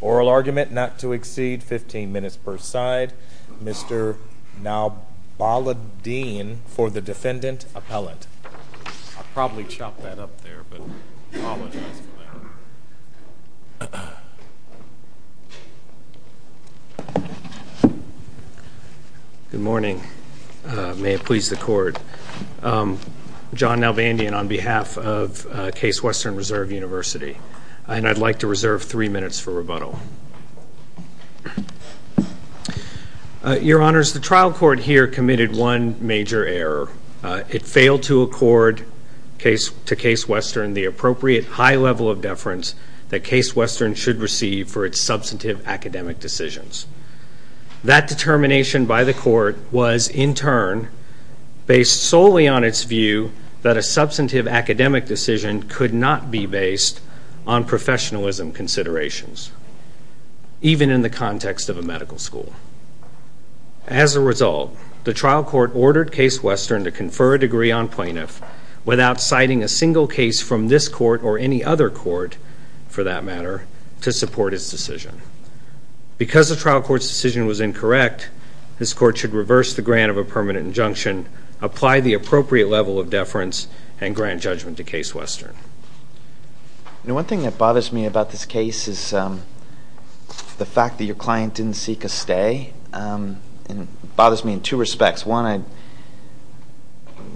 Oral argument not to exceed 15 minutes per side. Mr. Nalbaladeen for the defendant appellate. I'll probably chop that up there, but I apologize for that. Good morning. May it please the court. I'm John Nalbandeen on behalf of Case Western Reserve University. And I'd like to reserve three minutes for rebuttal. Your Honors, the trial court here committed one major error. It failed to accord to Case Western the appropriate high level of deference that Case Western should receive for its substantive academic decisions. That determination by the court was in turn based solely on its view that a substantive academic decision could not be based on professionalism considerations. Even in the context of a medical school. As a result, the trial court ordered Case Western to confer a degree on plaintiff without citing a single case from this court or any other court, for that matter, to support its decision. Because the trial court's decision was incorrect, this court should reverse the grant of a permanent injunction, apply the appropriate level of deference, and grant judgment to Case Western. One thing that bothers me about this case is the fact that your client didn't seek a stay. It bothers me in two respects. One,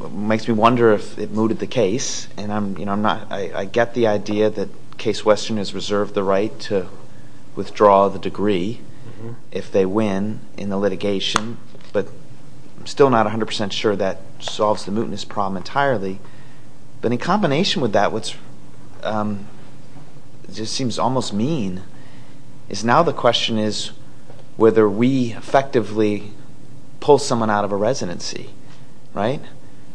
it makes me wonder if it mooted the case. And I get the idea that Case Western has reserved the right to withdraw the degree if they win in the litigation. But I'm still not 100% sure that solves the mootness problem entirely. But in combination with that, what seems almost mean is now the question is whether we effectively pull someone out of a residency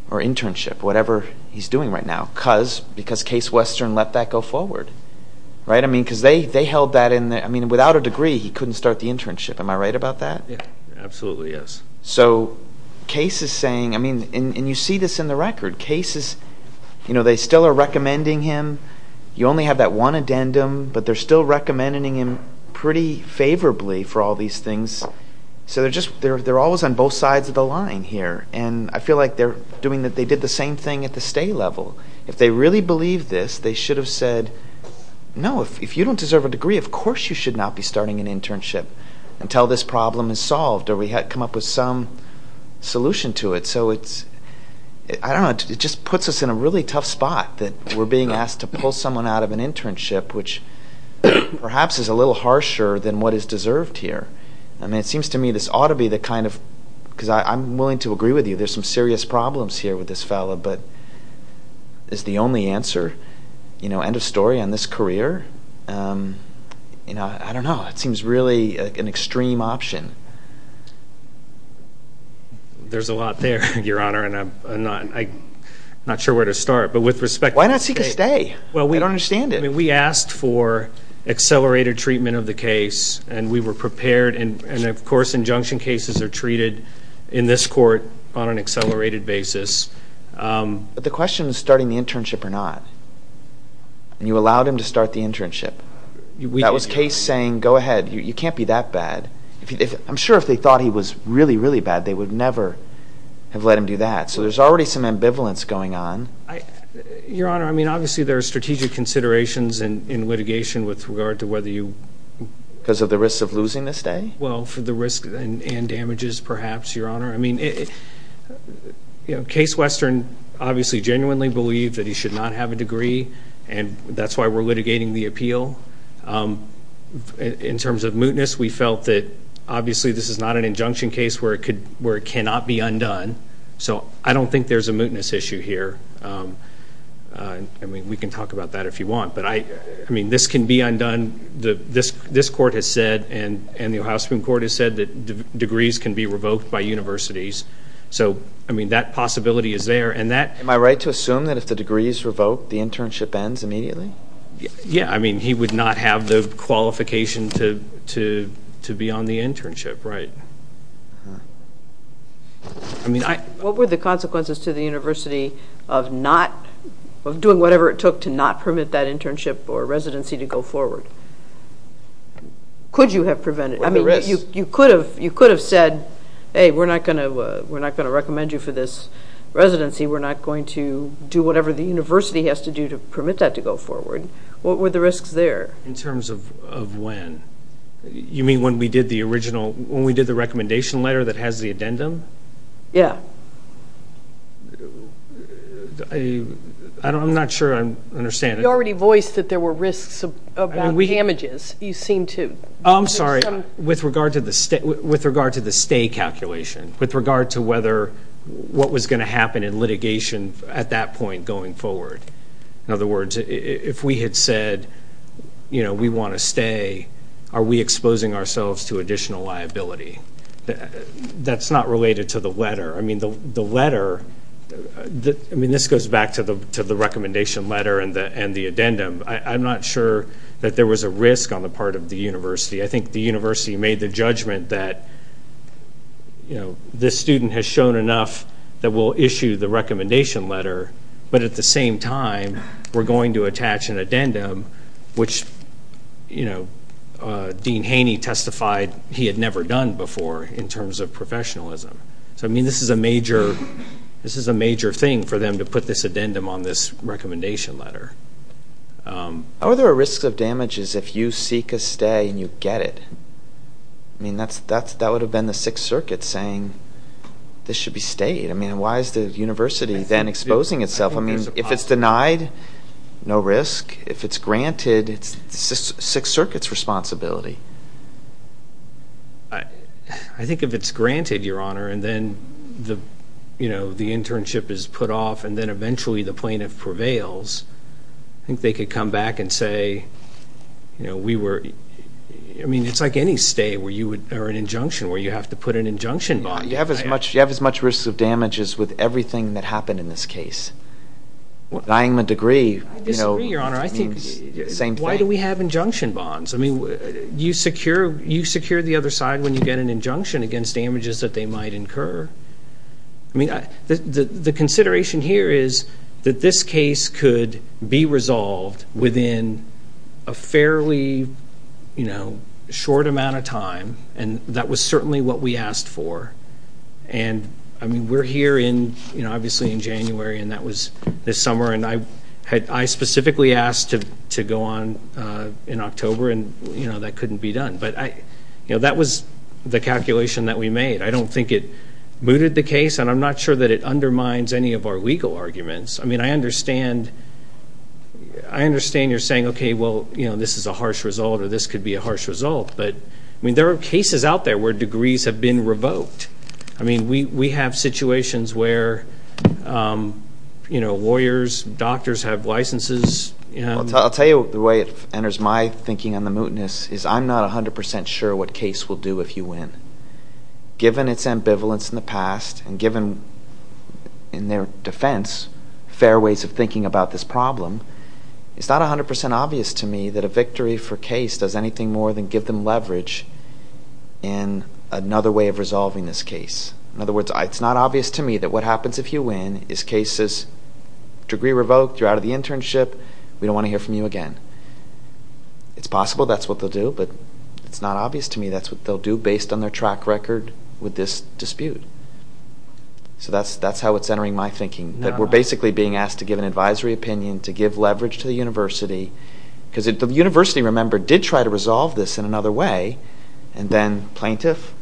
or internship, whatever he's doing right now. Because Case Western let that go forward. I mean, without a degree, he couldn't start the internship. Am I right about that? Absolutely, yes. So Case is saying, I mean, and you see this in the record, Case is, you know, they still are recommending him. You only have that one addendum, but they're still recommending him pretty favorably for all these things. So they're just, they're always on both sides of the line here. And I feel like they're doing, they did the same thing at the stay level. If they really believed this, they should have said, no, if you don't deserve a degree, of course you should not be starting an internship until this problem is solved. Or we come up with some solution to it. So it's, I don't know, it just puts us in a really tough spot that we're being asked to pull someone out of an internship, which perhaps is a little harsher than what is deserved here. I mean, it seems to me this ought to be the kind of, because I'm willing to agree with you, there's some serious problems here with this fellow. But is the only answer, you know, end of story on this career? You know, I don't know. It seems really an extreme option. There's a lot there, Your Honor, and I'm not sure where to start. But with respect to this case. Why not seek a stay? Well, we don't understand it. I mean, we asked for accelerated treatment of the case, and we were prepared, and of course injunction cases are treated in this court on an accelerated basis. But the question is starting the internship or not. And you allowed him to start the internship. That was Case saying, go ahead, you can't be that bad. I'm sure if they thought he was really, really bad, they would never have let him do that. So there's already some ambivalence going on. Your Honor, I mean, obviously there are strategic considerations in litigation with regard to whether you. Because of the risk of losing this day? Well, for the risk and damages, perhaps, Your Honor. I mean, Case Western obviously genuinely believed that he should not have a degree, and that's why we're litigating the appeal. In terms of mootness, we felt that obviously this is not an injunction case where it cannot be undone. So I don't think there's a mootness issue here. I mean, we can talk about that if you want. But, I mean, this can be undone. This court has said and the Ohio Supreme Court has said that degrees can be revoked by universities. So, I mean, that possibility is there. Am I right to assume that if the degree is revoked, the internship ends immediately? Yeah, I mean, he would not have the qualification to be on the internship, right? What were the consequences to the university of doing whatever it took to not permit that internship or residency to go forward? Could you have prevented it? I mean, you could have said, hey, we're not going to recommend you for this residency. We're not going to do whatever the university has to do to permit that to go forward. What were the risks there? In terms of when? You mean when we did the original, when we did the recommendation letter that has the addendum? Yeah. I'm not sure I understand. You already voiced that there were risks about damages. You seem to. I'm sorry. With regard to the stay calculation, with regard to whether what was going to happen in litigation at that point going forward. In other words, if we had said, you know, we want to stay, are we exposing ourselves to additional liability? That's not related to the letter. I mean, the letter, I mean, this goes back to the recommendation letter and the addendum. I'm not sure that there was a risk on the part of the university. I think the university made the judgment that, you know, this student has shown enough that we'll issue the recommendation letter, but at the same time we're going to attach an addendum, which, you know, Dean Haney testified he had never done before in terms of professionalism. So, I mean, this is a major thing for them to put this addendum on this recommendation letter. Are there risks of damages if you seek a stay and you get it? I mean, that would have been the Sixth Circuit saying this should be stayed. I mean, why is the university then exposing itself? I mean, if it's denied, no risk. If it's granted, it's the Sixth Circuit's responsibility. I think if it's granted, Your Honor, and then, you know, the internship is put off and then eventually the plaintiff prevails, I think they could come back and say, you know, we were, I mean, it's like any stay where you would, or an injunction, where you have to put an injunction bond. You have as much risk of damages with everything that happened in this case. Dying the degree, you know. I disagree, Your Honor. I think it's the same thing. Why do we have injunction bonds? I mean, you secure the other side when you get an injunction against damages that they might incur. I mean, the consideration here is that this case could be resolved within a fairly, you know, short amount of time, and that was certainly what we asked for. And, I mean, we're here in, you know, obviously in January, and that was this summer, and I specifically asked to go on in October, and, you know, that couldn't be done. But, you know, that was the calculation that we made. I don't think it booted the case, and I'm not sure that it undermines any of our legal arguments. I mean, I understand you're saying, okay, well, you know, this is a harsh result, or this could be a harsh result. But, I mean, there are cases out there where degrees have been revoked. I mean, we have situations where, you know, lawyers, doctors have licenses. I'll tell you the way it enters my thinking on the mootness is I'm not 100% sure what case will do if you win. Given its ambivalence in the past and given, in their defense, fair ways of thinking about this problem, it's not 100% obvious to me that a victory for case does anything more than give them leverage in another way of resolving this case. In other words, it's not obvious to me that what happens if you win is cases, degree revoked, you're out of the internship, we don't want to hear from you again. It's possible that's what they'll do, but it's not obvious to me that's what they'll do based on their track record with this dispute. So that's how it's entering my thinking, that we're basically being asked to give an advisory opinion, to give leverage to the university, because the university, remember, did try to resolve this in another way, and then plaintiff,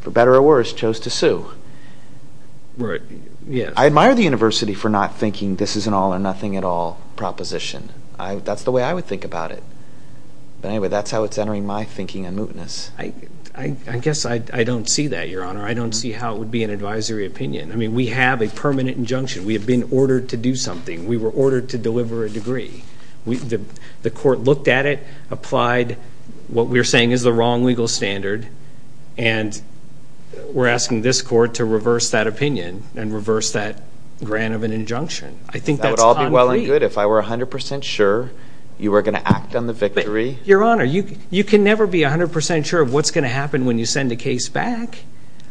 for better or worse, chose to sue. I admire the university for not thinking this is an all-or-nothing-at-all proposition. That's the way I would think about it. But anyway, that's how it's entering my thinking on mootness. I guess I don't see that, Your Honor. I don't see how it would be an advisory opinion. I mean, we have a permanent injunction. We have been ordered to do something. We were ordered to deliver a degree. The court looked at it, applied what we're saying is the wrong legal standard, and we're asking this court to reverse that opinion and reverse that grant of an injunction. I think that's concrete. That would all be well and good if I were 100% sure you were going to act on the victory. Your Honor, you can never be 100% sure of what's going to happen when you send a case back.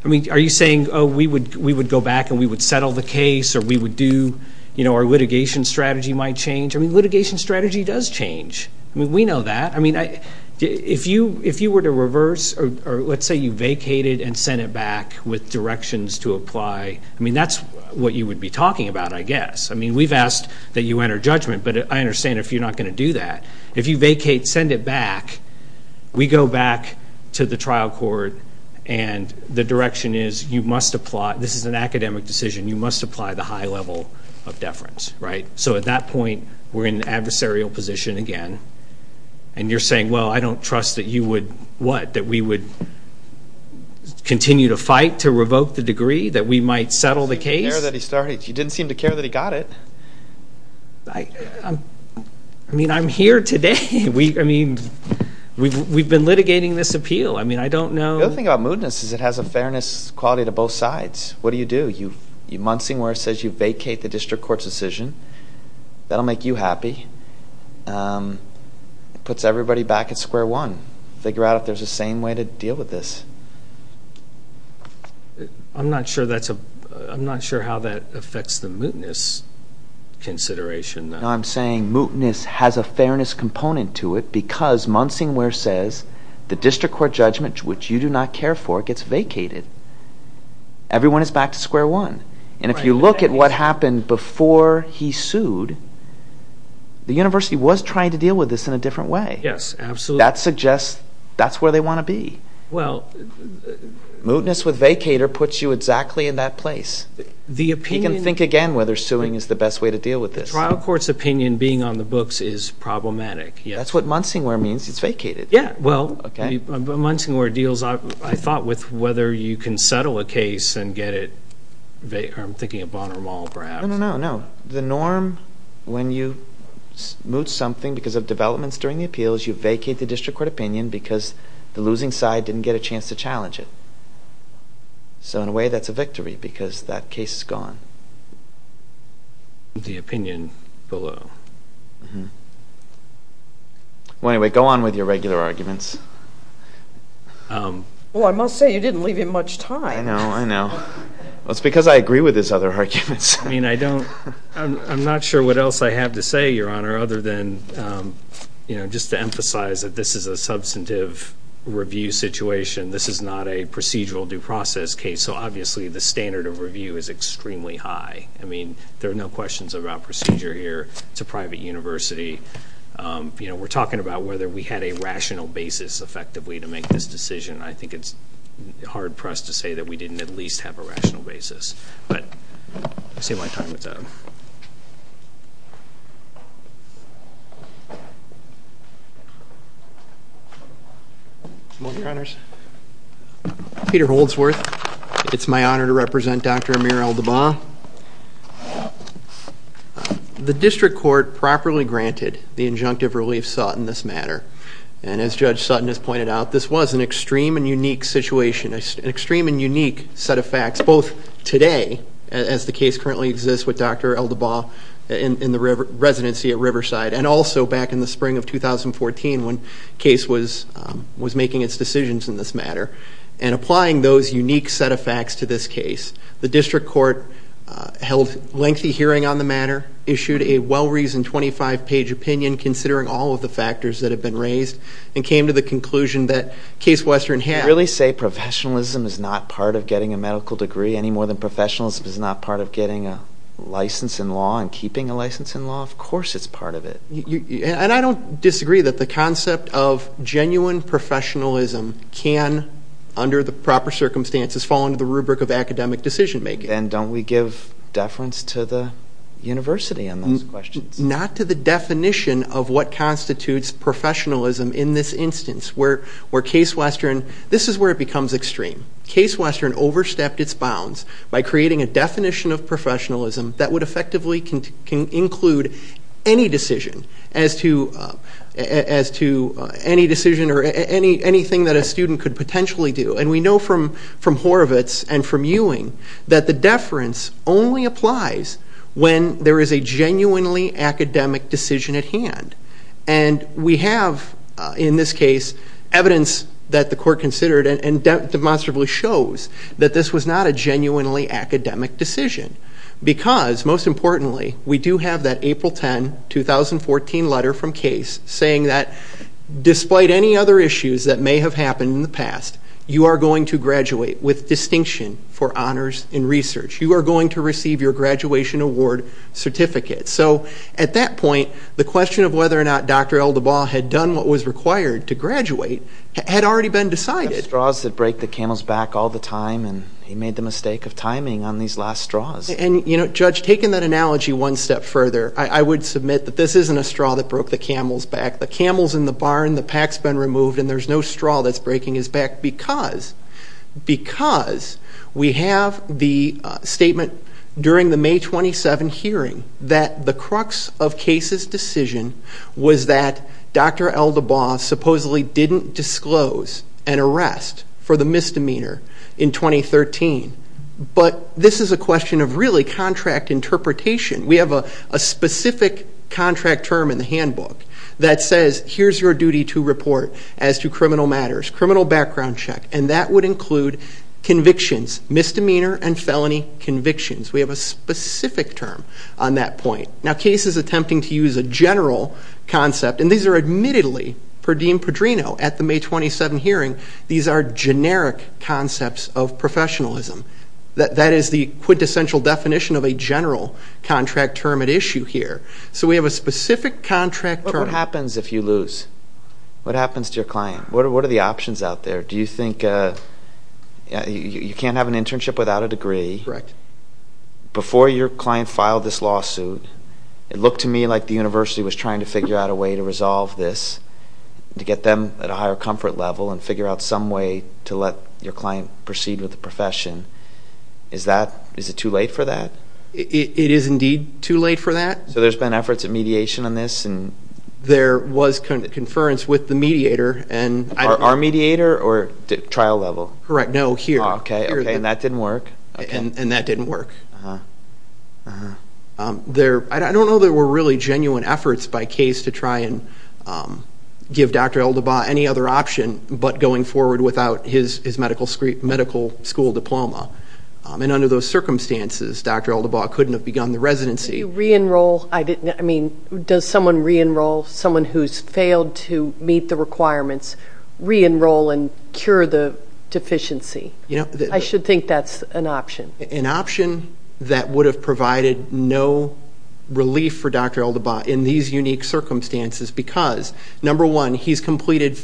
I mean, are you saying, oh, we would go back and we would settle the case or we would do, you know, our litigation strategy might change? I mean, litigation strategy does change. I mean, we know that. I mean, if you were to reverse or let's say you vacated and sent it back with directions to apply, I mean, that's what you would be talking about, I guess. I mean, we've asked that you enter judgment, but I understand if you're not going to do that. If you vacate, send it back, we go back to the trial court, and the direction is you must apply, this is an academic decision, you must apply the high level of deference, right? So at that point, we're in an adversarial position again, and you're saying, well, I don't trust that you would, what, that we would continue to fight to revoke the degree, that we might settle the case? You didn't seem to care that he got it. I mean, I'm here today. I mean, we've been litigating this appeal. I mean, I don't know. The other thing about mootness is it has a fairness quality to both sides. What do you do? You muntzing where it says you vacate the district court's decision. That will make you happy. It puts everybody back at square one, figure out if there's a sane way to deal with this. I'm not sure that's a, I'm not sure how that affects the mootness consideration. No, I'm saying mootness has a fairness component to it because muntzing where it says the district court judgment, which you do not care for, gets vacated. Everyone is back to square one. And if you look at what happened before he sued, the university was trying to deal with this in a different way. Yes, absolutely. That suggests that's where they want to be. Mootness with vacater puts you exactly in that place. You can think again whether suing is the best way to deal with this. The trial court's opinion being on the books is problematic. That's what muntzing where it means. It's vacated. Yes, well, muntzing where it deals, I thought, with whether you can settle a case and get it vacated. I'm thinking of Bonner Mall, perhaps. No, no, no, no. The norm when you moot something because of developments during the appeals, you vacate the district court opinion because the losing side didn't get a chance to challenge it. So in a way, that's a victory because that case is gone. The opinion below. Well, anyway, go on with your regular arguments. Well, I must say you didn't leave him much time. I know, I know. Well, it's because I agree with his other arguments. I'm not sure what else I have to say, Your Honor, other than just to emphasize that this is a substantive review situation. This is not a procedural due process case, so obviously the standard of review is extremely high. I mean, there are no questions about procedure here. It's a private university. We're talking about whether we had a rational basis, effectively, to make this decision. I think it's hard for us to say that we didn't at least have a rational basis. But I'll save my time with that. Come on, Your Honors. Peter Holdsworth. It's my honor to represent Dr. Amir al-Dabah. The district court properly granted the injunctive relief sought in this matter, and as Judge Sutton has pointed out, this was an extreme and unique situation, an extreme and unique set of facts, both today, as the case currently exists with Dr. al-Dabah in the residency at Riverside, and also back in the spring of 2014 when the case was making its decisions in this matter. And applying those unique set of facts to this case, the district court held lengthy hearing on the matter, issued a well-reasoned 25-page opinion considering all of the factors that have been raised, and came to the conclusion that Case Western had Did you really say professionalism is not part of getting a medical degree any more than professionalism is not part of getting a license in law and keeping a license in law? Of course it's part of it. And I don't disagree that the concept of genuine professionalism can, under the proper circumstances, fall under the rubric of academic decision-making. Then don't we give deference to the university on those questions? Not to the definition of what constitutes professionalism in this instance, where Case Western, this is where it becomes extreme. Case Western overstepped its bounds by creating a definition of professionalism that would effectively include any decision, as to any decision or anything that a student could potentially do. And we know from Horovitz and from Ewing, that the deference only applies when there is a genuinely academic decision at hand. And we have, in this case, evidence that the court considered and demonstrably shows that this was not a genuinely academic decision. Because, most importantly, we do have that April 10, 2014 letter from Case saying that despite any other issues that may have happened in the past, you are going to graduate with distinction for honors in research. You are going to receive your graduation award certificate. So, at that point, the question of whether or not Dr. Eldebaugh had done what was required to graduate had already been decided. There are straws that break the camel's back all the time, and he made the mistake of timing on these last straws. And, you know, Judge, taking that analogy one step further, I would submit that this isn't a straw that broke the camel's back. The camel's in the barn, the pack's been removed, and there's no straw that's breaking his back, because we have the statement during the May 27 hearing that the crux of Case's decision was that Dr. Eldebaugh supposedly didn't disclose an arrest for the misdemeanor in 2013. But this is a question of, really, contract interpretation. We have a specific contract term in the handbook that says, here's your duty to report as to criminal matters, criminal background check, and that would include convictions, misdemeanor and felony convictions. We have a specific term on that point. Now, Case is attempting to use a general concept, and these are admittedly, per Dean Pedrino, at the May 27 hearing, these are generic concepts of professionalism. That is the quintessential definition of a general contract term at issue here. So we have a specific contract term. But what happens if you lose? What happens to your client? What are the options out there? Do you think you can't have an internship without a degree? Correct. Before your client filed this lawsuit, it looked to me like the university was trying to figure out a way to resolve this, to get them at a higher comfort level and figure out some way to let your client proceed with the profession. Is it too late for that? It is indeed too late for that. So there's been efforts at mediation on this? There was conference with the mediator. Our mediator or trial level? Correct. No, here. Okay, and that didn't work? And that didn't work. I don't know that there were really genuine efforts by case to try and give Dr. Eldabaugh any other option but going forward without his medical school diploma. And under those circumstances, Dr. Eldabaugh couldn't have begun the residency. Do you re-enroll? I mean, does someone re-enroll, someone who's failed to meet the requirements, re-enroll and cure the deficiency? I should think that's an option. An option that would have provided no relief for Dr. Eldabaugh in these unique circumstances because, number one, he's completed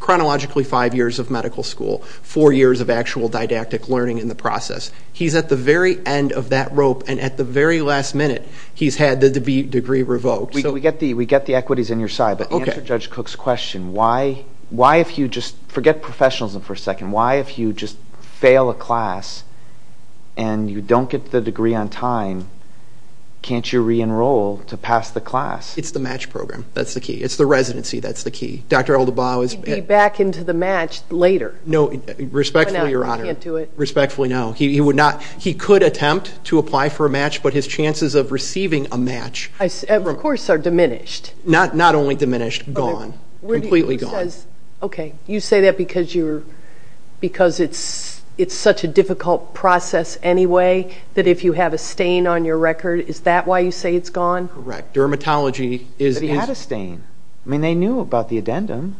chronologically five years of medical school, four years of actual didactic learning in the process. He's at the very end of that rope, and at the very last minute he's had the degree revoked. We get the equities on your side, but answer Judge Cook's question. Why if you just forget professionalism for a second, why if you just fail a class and you don't get the degree on time, can't you re-enroll to pass the class? It's the match program. That's the key. It's the residency. That's the key. Dr. Eldabaugh is... He'd be back into the match later. Respectfully, Your Honor. He can't do it. Respectfully, no. He could attempt to apply for a match, but his chances of receiving a match... Of course are diminished. Not only diminished. Gone. Completely gone. Okay. You say that because it's such a difficult process anyway, that if you have a stain on your record, is that why you say it's gone? Correct. Dermatology is... But he had a stain. I mean, they knew about the addendum.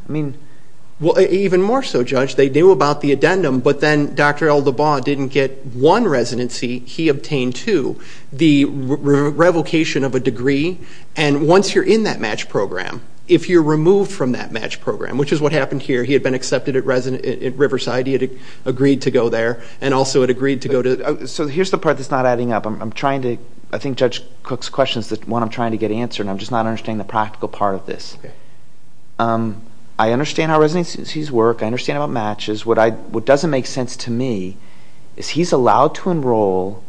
Even more so, Judge. They knew about the addendum, but then Dr. Eldabaugh didn't get one residency. He obtained two. The revocation of a degree, and once you're in that match program, if you're removed from that match program, which is what happened here. He had been accepted at Riverside. He had agreed to go there, and also had agreed to go to... So here's the part that's not adding up. I'm trying to... I think Judge Cook's question is the one I'm trying to get answered, and I'm just not understanding the practical part of this. I understand how residencies work. I understand about matches. What doesn't make sense to me is he's allowed to enroll,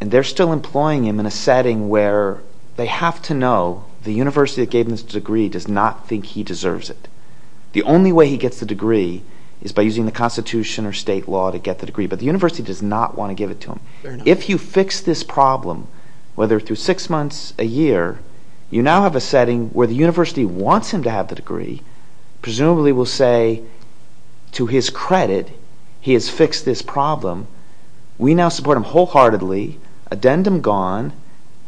and they're still employing him in a setting where they have to know the university that gave him this degree does not think he deserves it. The only way he gets the degree is by using the Constitution or state law to get the degree, but the university does not want to give it to him. If you fix this problem, whether through six months, a year, you now have a setting where the university wants him to have the degree, presumably will say, to his credit, he has fixed this problem. We now support him wholeheartedly. Addendum gone.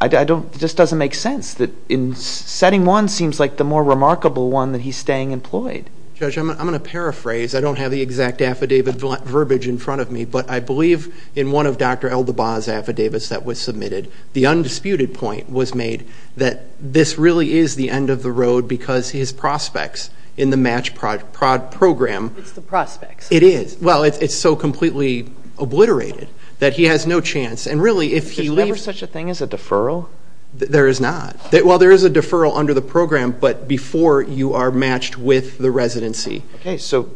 It just doesn't make sense that setting one seems like the more remarkable one that he's staying employed. Judge, I'm going to paraphrase. I don't have the exact affidavit verbiage in front of me, but I believe in one of Dr. Eldabaugh's affidavits that was submitted, the undisputed point was made that this really is the end of the road because his prospects in the match program... It's the prospects. It is. Well, it's so completely obliterated that he has no chance, and really, if he leaves... There is a deferral? There is not. Well, there is a deferral under the program, but before you are matched with the residency. Okay, so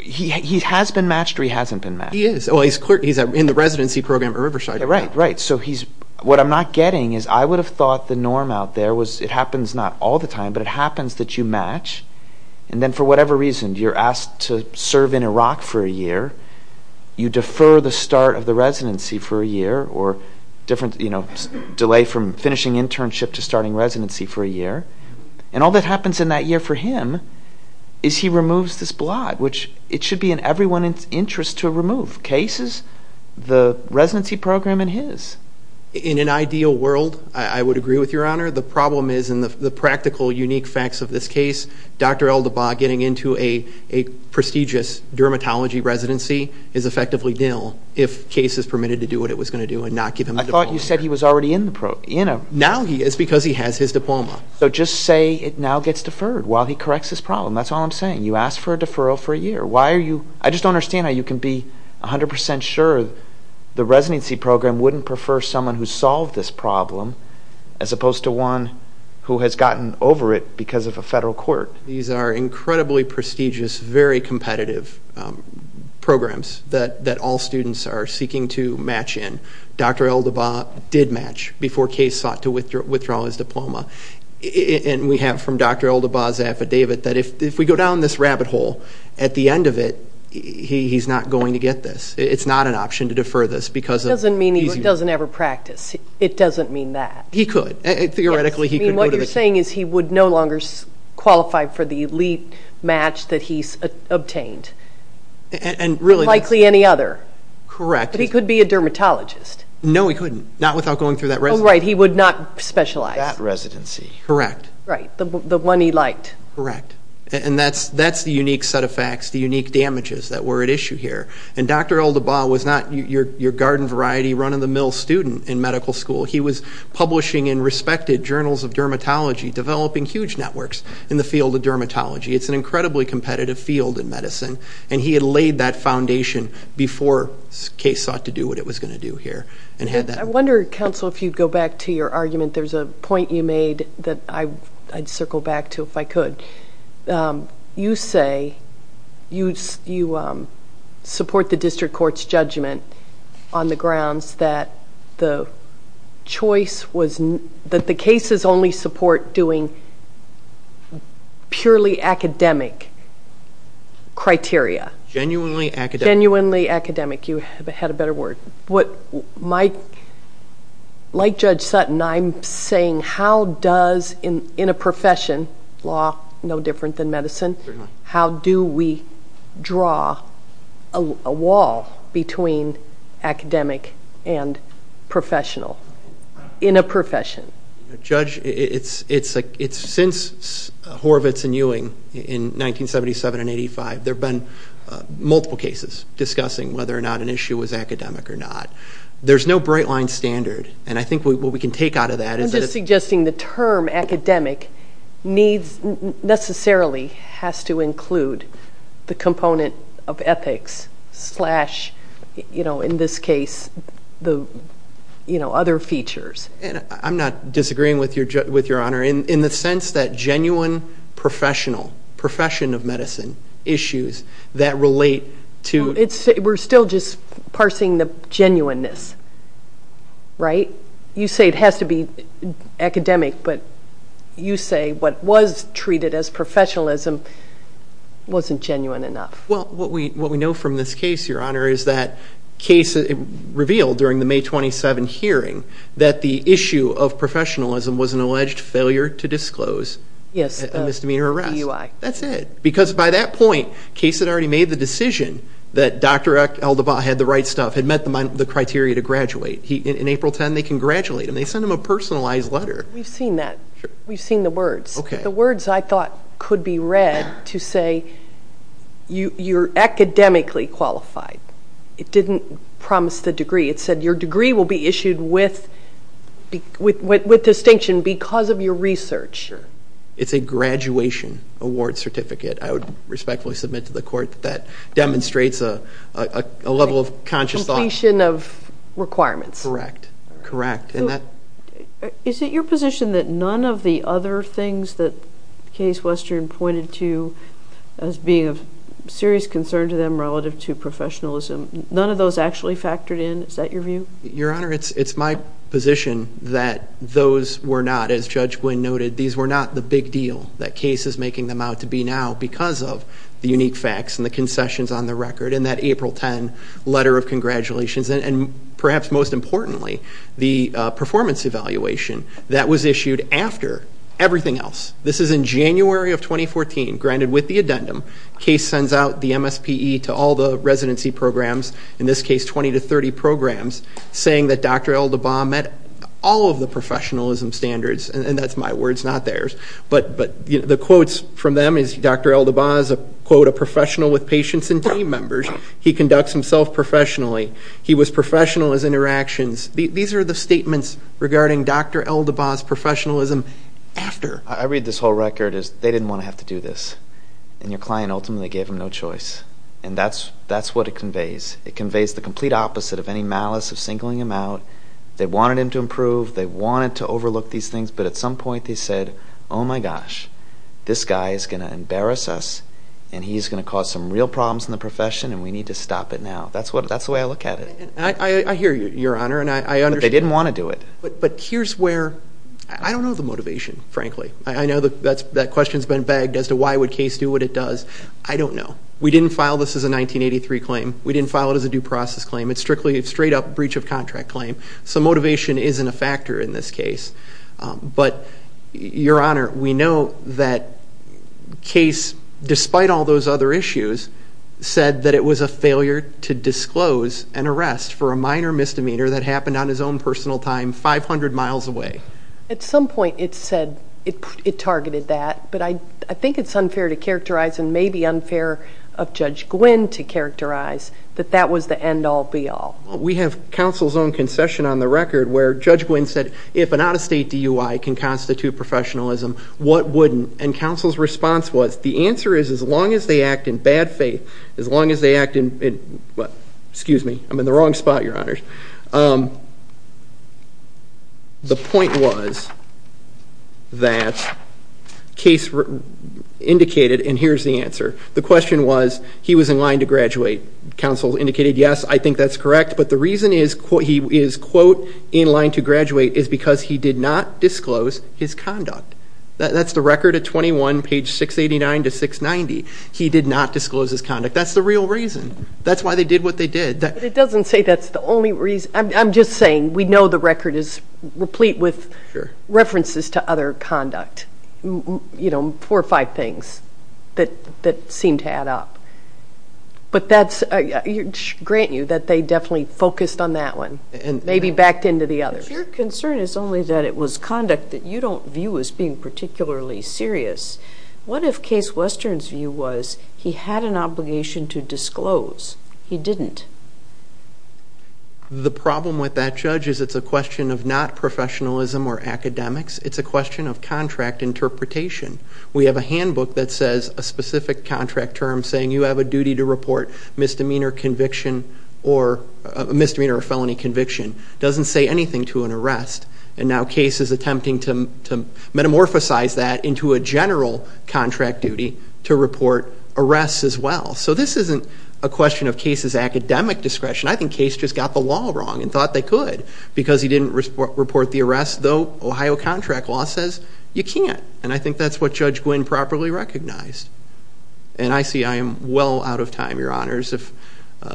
he has been matched or he hasn't been matched? He is. He's in the residency program at Riverside. Right, right. So what I'm not getting is I would have thought the norm out there was it happens not all the time, but it happens that you match, and then for whatever reason, you're asked to serve in Iraq for a year. You defer the start of the residency for a year or delay from finishing internship to starting residency for a year, and all that happens in that year for him is he removes this blot, which it should be in everyone's interest to remove. Case is the residency program and his. In an ideal world, I would agree with Your Honor. The problem is in the practical, unique facts of this case, Dr. Eldabaugh getting into a prestigious dermatology residency is effectively nil if case is permitted to do what it was going to do and not give him a diploma. I thought you said he was already in the program. Now he is because he has his diploma. So just say it now gets deferred while he corrects his problem. That's all I'm saying. You ask for a deferral for a year. I just don't understand how you can be 100% sure the residency program wouldn't prefer someone who solved this problem as opposed to one who has gotten over it because of a federal court. These are incredibly prestigious, very competitive programs that all students are seeking to match in. Dr. Eldabaugh did match before case sought to withdraw his diploma. And we have from Dr. Eldabaugh's affidavit that if we go down this rabbit hole, at the end of it, he's not going to get this. It's not an option to defer this. It doesn't mean he doesn't ever practice. It doesn't mean that. He could. What you're saying is he would no longer qualify for the elite match that he's obtained. Unlikely any other. Correct. But he could be a dermatologist. No, he couldn't. Not without going through that residency. Oh, right. He would not specialize. That residency. Correct. Right. The one he liked. Correct. And that's the unique set of facts, the unique damages that were at issue here. And Dr. Eldabaugh was not your garden variety, run-of-the-mill student in medical school. He was publishing in respected journals of dermatology, developing huge networks in the field of dermatology. It's an incredibly competitive field in medicine. And he had laid that foundation before the case sought to do what it was going to do here. I wonder, counsel, if you'd go back to your argument. There's a point you made that I'd circle back to if I could. You say you support the district court's judgment on the grounds that the case's only support doing purely academic criteria. Genuinely academic. Genuinely academic. You had a better word. Like Judge Sutton, I'm saying how does, in a profession, law no different than medicine, how do we draw a wall between academic and professional? In a profession. Judge, since Horvitz and Ewing in 1977 and 1985, there have been multiple cases discussing whether or not an issue was academic or not. There's no bright-line standard, and I think what we can take out of that is that... I'm just suggesting the term academic necessarily has to include the component of ethics slash, in this case, the other features. I'm not disagreeing with Your Honor. In the sense that genuine professional, profession of medicine issues that relate to... We're still just parsing the genuineness, right? You say it has to be academic, but you say what was treated as professionalism wasn't genuine enough. Well, what we know from this case, Your Honor, is that the case revealed during the May 27 hearing that the issue of professionalism was an alleged failure to disclose a misdemeanor arrest. That's it. Because by that point, Case had already made the decision that Dr. Eldebaugh had the right stuff, had met the criteria to graduate. In April 10, they congratulate him. They send him a personalized letter. We've seen that. We've seen the words. The words, I thought, could be read to say you're academically qualified. It didn't promise the degree. It said your degree will be issued with distinction because of your research. Sure. It's a graduation award certificate. I would respectfully submit to the Court that that demonstrates a level of conscious thought. Completion of requirements. Correct. Correct. Is it your position that none of the other things that Case Western pointed to as being of serious concern to them relative to professionalism, none of those actually factored in? Is that your view? Your Honor, it's my position that those were not, as Judge Wynn noted, these were not the big deal that Case is making them out to be now because of the unique facts and the concessions on the record in that April 10 letter of congratulations and perhaps most importantly, the performance evaluation that was issued after everything else. This is in January of 2014, granted with the addendum. Case sends out the MSPE to all the residency programs, in this case 20 to 30 programs, saying that Dr. Eldabaugh met all of the professionalism standards, and that's my words, not theirs. But the quotes from them is Dr. Eldabaugh is a professional with patients and team members. He conducts himself professionally. He was professional in his interactions. These are the statements regarding Dr. Eldabaugh's professionalism after. I read this whole record as they didn't want to have to do this, and your client ultimately gave him no choice, and that's what it conveys. It conveys the complete opposite of any malice of singling him out. They wanted him to improve. They wanted to overlook these things, but at some point they said, oh, my gosh, this guy is going to embarrass us, and he's going to cause some real problems in the profession, and we need to stop it now. That's the way I look at it. I hear you, Your Honor, and I understand. But they didn't want to do it. But here's where I don't know the motivation, frankly. I know that question has been bagged as to why would case do what it does. I don't know. We didn't file this as a 1983 claim. We didn't file it as a due process claim. It's strictly a straight-up breach of contract claim, so motivation isn't a factor in this case. But, Your Honor, we know that case, despite all those other issues, said that it was a failure to disclose an arrest for a minor misdemeanor that happened on his own personal time 500 miles away. At some point it said it targeted that, but I think it's unfair to characterize and maybe unfair of Judge Gwynne to characterize that that was the end-all, be-all. We have counsel's own concession on the record where Judge Gwynne said, if an out-of-state DUI can constitute professionalism, what wouldn't? And counsel's response was, the answer is as long as they act in bad faith, as long as they act in what? Excuse me. I'm in the wrong spot, Your Honors. The point was that case indicated, and here's the answer. The question was, he was in line to graduate. Counsel indicated, yes, I think that's correct, but the reason he is, quote, in line to graduate is because he did not disclose his conduct. That's the record at 21, page 689 to 690. He did not disclose his conduct. That's the real reason. That's why they did what they did. But it doesn't say that's the only reason. I'm just saying we know the record is replete with references to other conduct, four or five things that seem to add up. But that's a grant you that they definitely focused on that one, maybe backed into the other. If your concern is only that it was conduct that you don't view as being particularly serious, what if case Western's view was he had an obligation to disclose? He didn't. The problem with that, Judge, is it's a question of not professionalism or academics. It's a question of contract interpretation. We have a handbook that says a specific contract term saying you have a duty to report misdemeanor or felony conviction. It doesn't say anything to an arrest, and now Case is attempting to metamorphosize that into a general contract duty to report arrests as well. So this isn't a question of Case's academic discretion. I think Case just got the law wrong and thought they could because he didn't report the arrest, though Ohio contract law says you can't, and I think that's what Judge Gwinn properly recognized. And I see I am well out of time, Your Honors.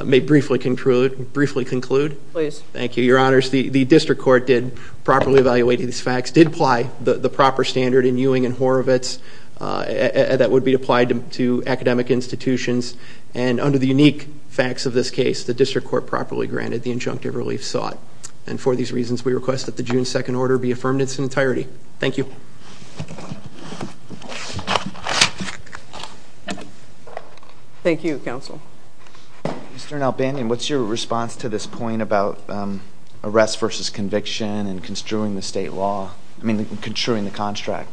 May I briefly conclude? Please. Thank you, Your Honors. The district court did properly evaluate these facts, did apply the proper standard in Ewing and Horovitz that would be applied to academic institutions, and under the unique facts of this case, the district court properly granted the injunctive relief sought. And for these reasons, we request that the June 2nd order be affirmed in its entirety. Thank you. Thank you, Counsel. Mr. Nalbandian, what's your response to this point about arrests versus conviction and construing the state law? I mean, construing the contract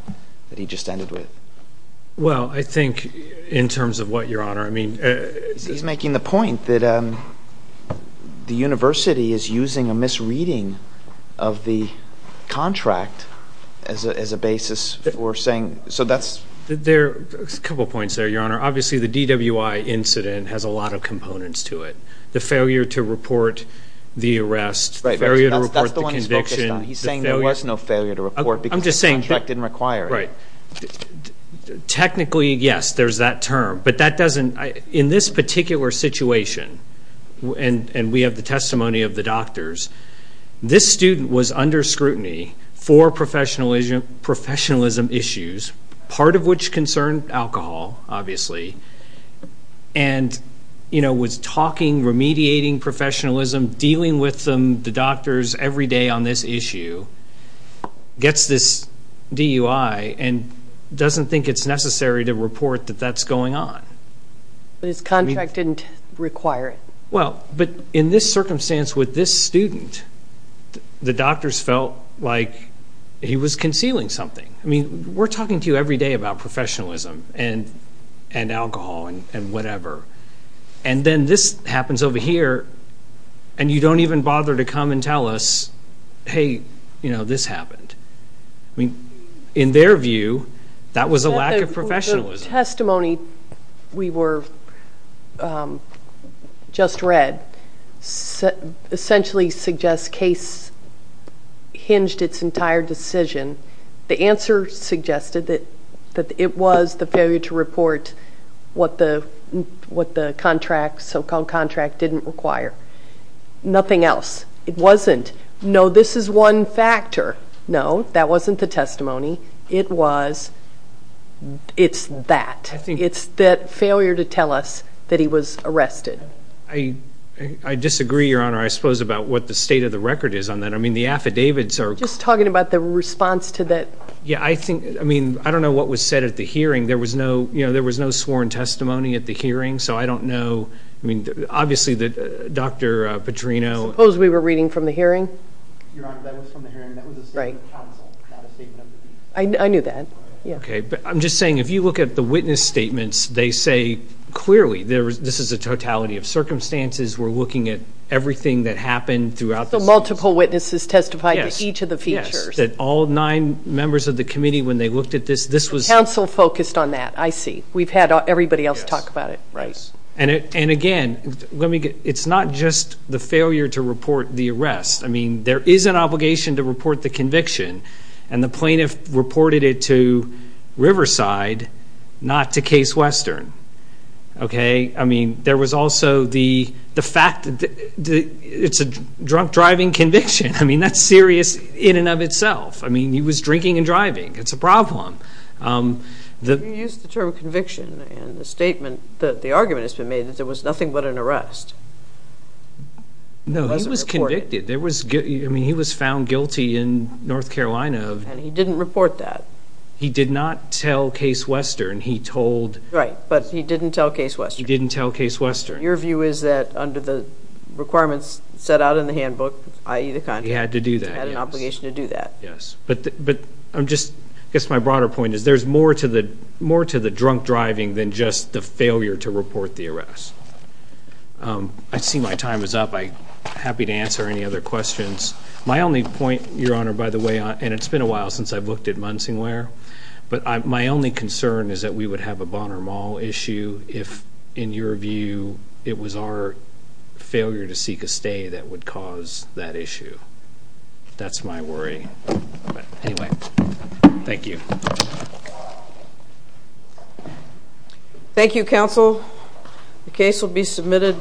that he just ended with. Well, I think in terms of what, Your Honor? I mean, He's making the point that the university is using a misreading of the contract as a basis for saying, so that's There are a couple of points there, Your Honor. Obviously, the DWI incident has a lot of components to it. The failure to report the arrest, the failure to report the conviction. That's the one he's focused on. He's saying there was no failure to report because the contract didn't require it. Right. Technically, yes, there's that term. But in this particular situation, and we have the testimony of the doctors, this student was under scrutiny for professionalism issues, part of which concerned alcohol, obviously, and was talking, remediating professionalism, dealing with the doctors every day on this issue, gets this DUI and doesn't think it's necessary to report that that's going on. But his contract didn't require it. Well, but in this circumstance with this student, the doctors felt like he was concealing something. I mean, we're talking to you every day about professionalism and alcohol and whatever, and then this happens over here, and you don't even bother to come and tell us, hey, you know, this happened. I mean, in their view, that was a lack of professionalism. The testimony we were just read essentially suggests case hinged its entire decision. The answer suggested that it was the failure to report what the so-called contract didn't require. Nothing else. It wasn't, no, this is one factor. No, that wasn't the testimony. It was, it's that. It's that failure to tell us that he was arrested. I disagree, Your Honor, I suppose, about what the state of the record is on that. I mean, the affidavits are... Just talking about the response to that. Yeah, I think, I mean, I don't know what was said at the hearing. There was no sworn testimony at the hearing, so I don't know. I mean, obviously, Dr. Petrino... I suppose we were reading from the hearing. Your Honor, that was from the hearing. That was a statement of counsel, not a statement of... I knew that, yeah. Okay, but I'm just saying, if you look at the witness statements, they say clearly this is a totality of circumstances. We're looking at everything that happened throughout the... Plus the multiple witnesses testified to each of the features. Yes, that all nine members of the committee, when they looked at this, this was... Counsel focused on that, I see. We've had everybody else talk about it. Right. And, again, let me get, it's not just the failure to report the arrest. I mean, there is an obligation to report the conviction, and the plaintiff reported it to Riverside, not to Case Western, okay? I mean, there was also the fact that it's a drunk driving conviction. I mean, that's serious in and of itself. I mean, he was drinking and driving. It's a problem. You used the term conviction in the statement that the argument has been made, that there was nothing but an arrest. No, he was convicted. I mean, he was found guilty in North Carolina. And he didn't report that. He did not tell Case Western. He told... He didn't tell Case Western. Your view is that, under the requirements set out in the handbook, i.e., the conviction. He had to do that, yes. He had an obligation to do that. Yes. But I'm just, I guess my broader point is there's more to the drunk driving than just the failure to report the arrest. I see my time is up. I'm happy to answer any other questions. My only point, Your Honor, by the way, and it's been a while since I've looked at Munsingware, but my only concern is that we would have a Bonner Mall issue if, in your view, it was our failure to seek a stay that would cause that issue. That's my worry. But anyway, thank you. Thank you, counsel. The case will be submitted.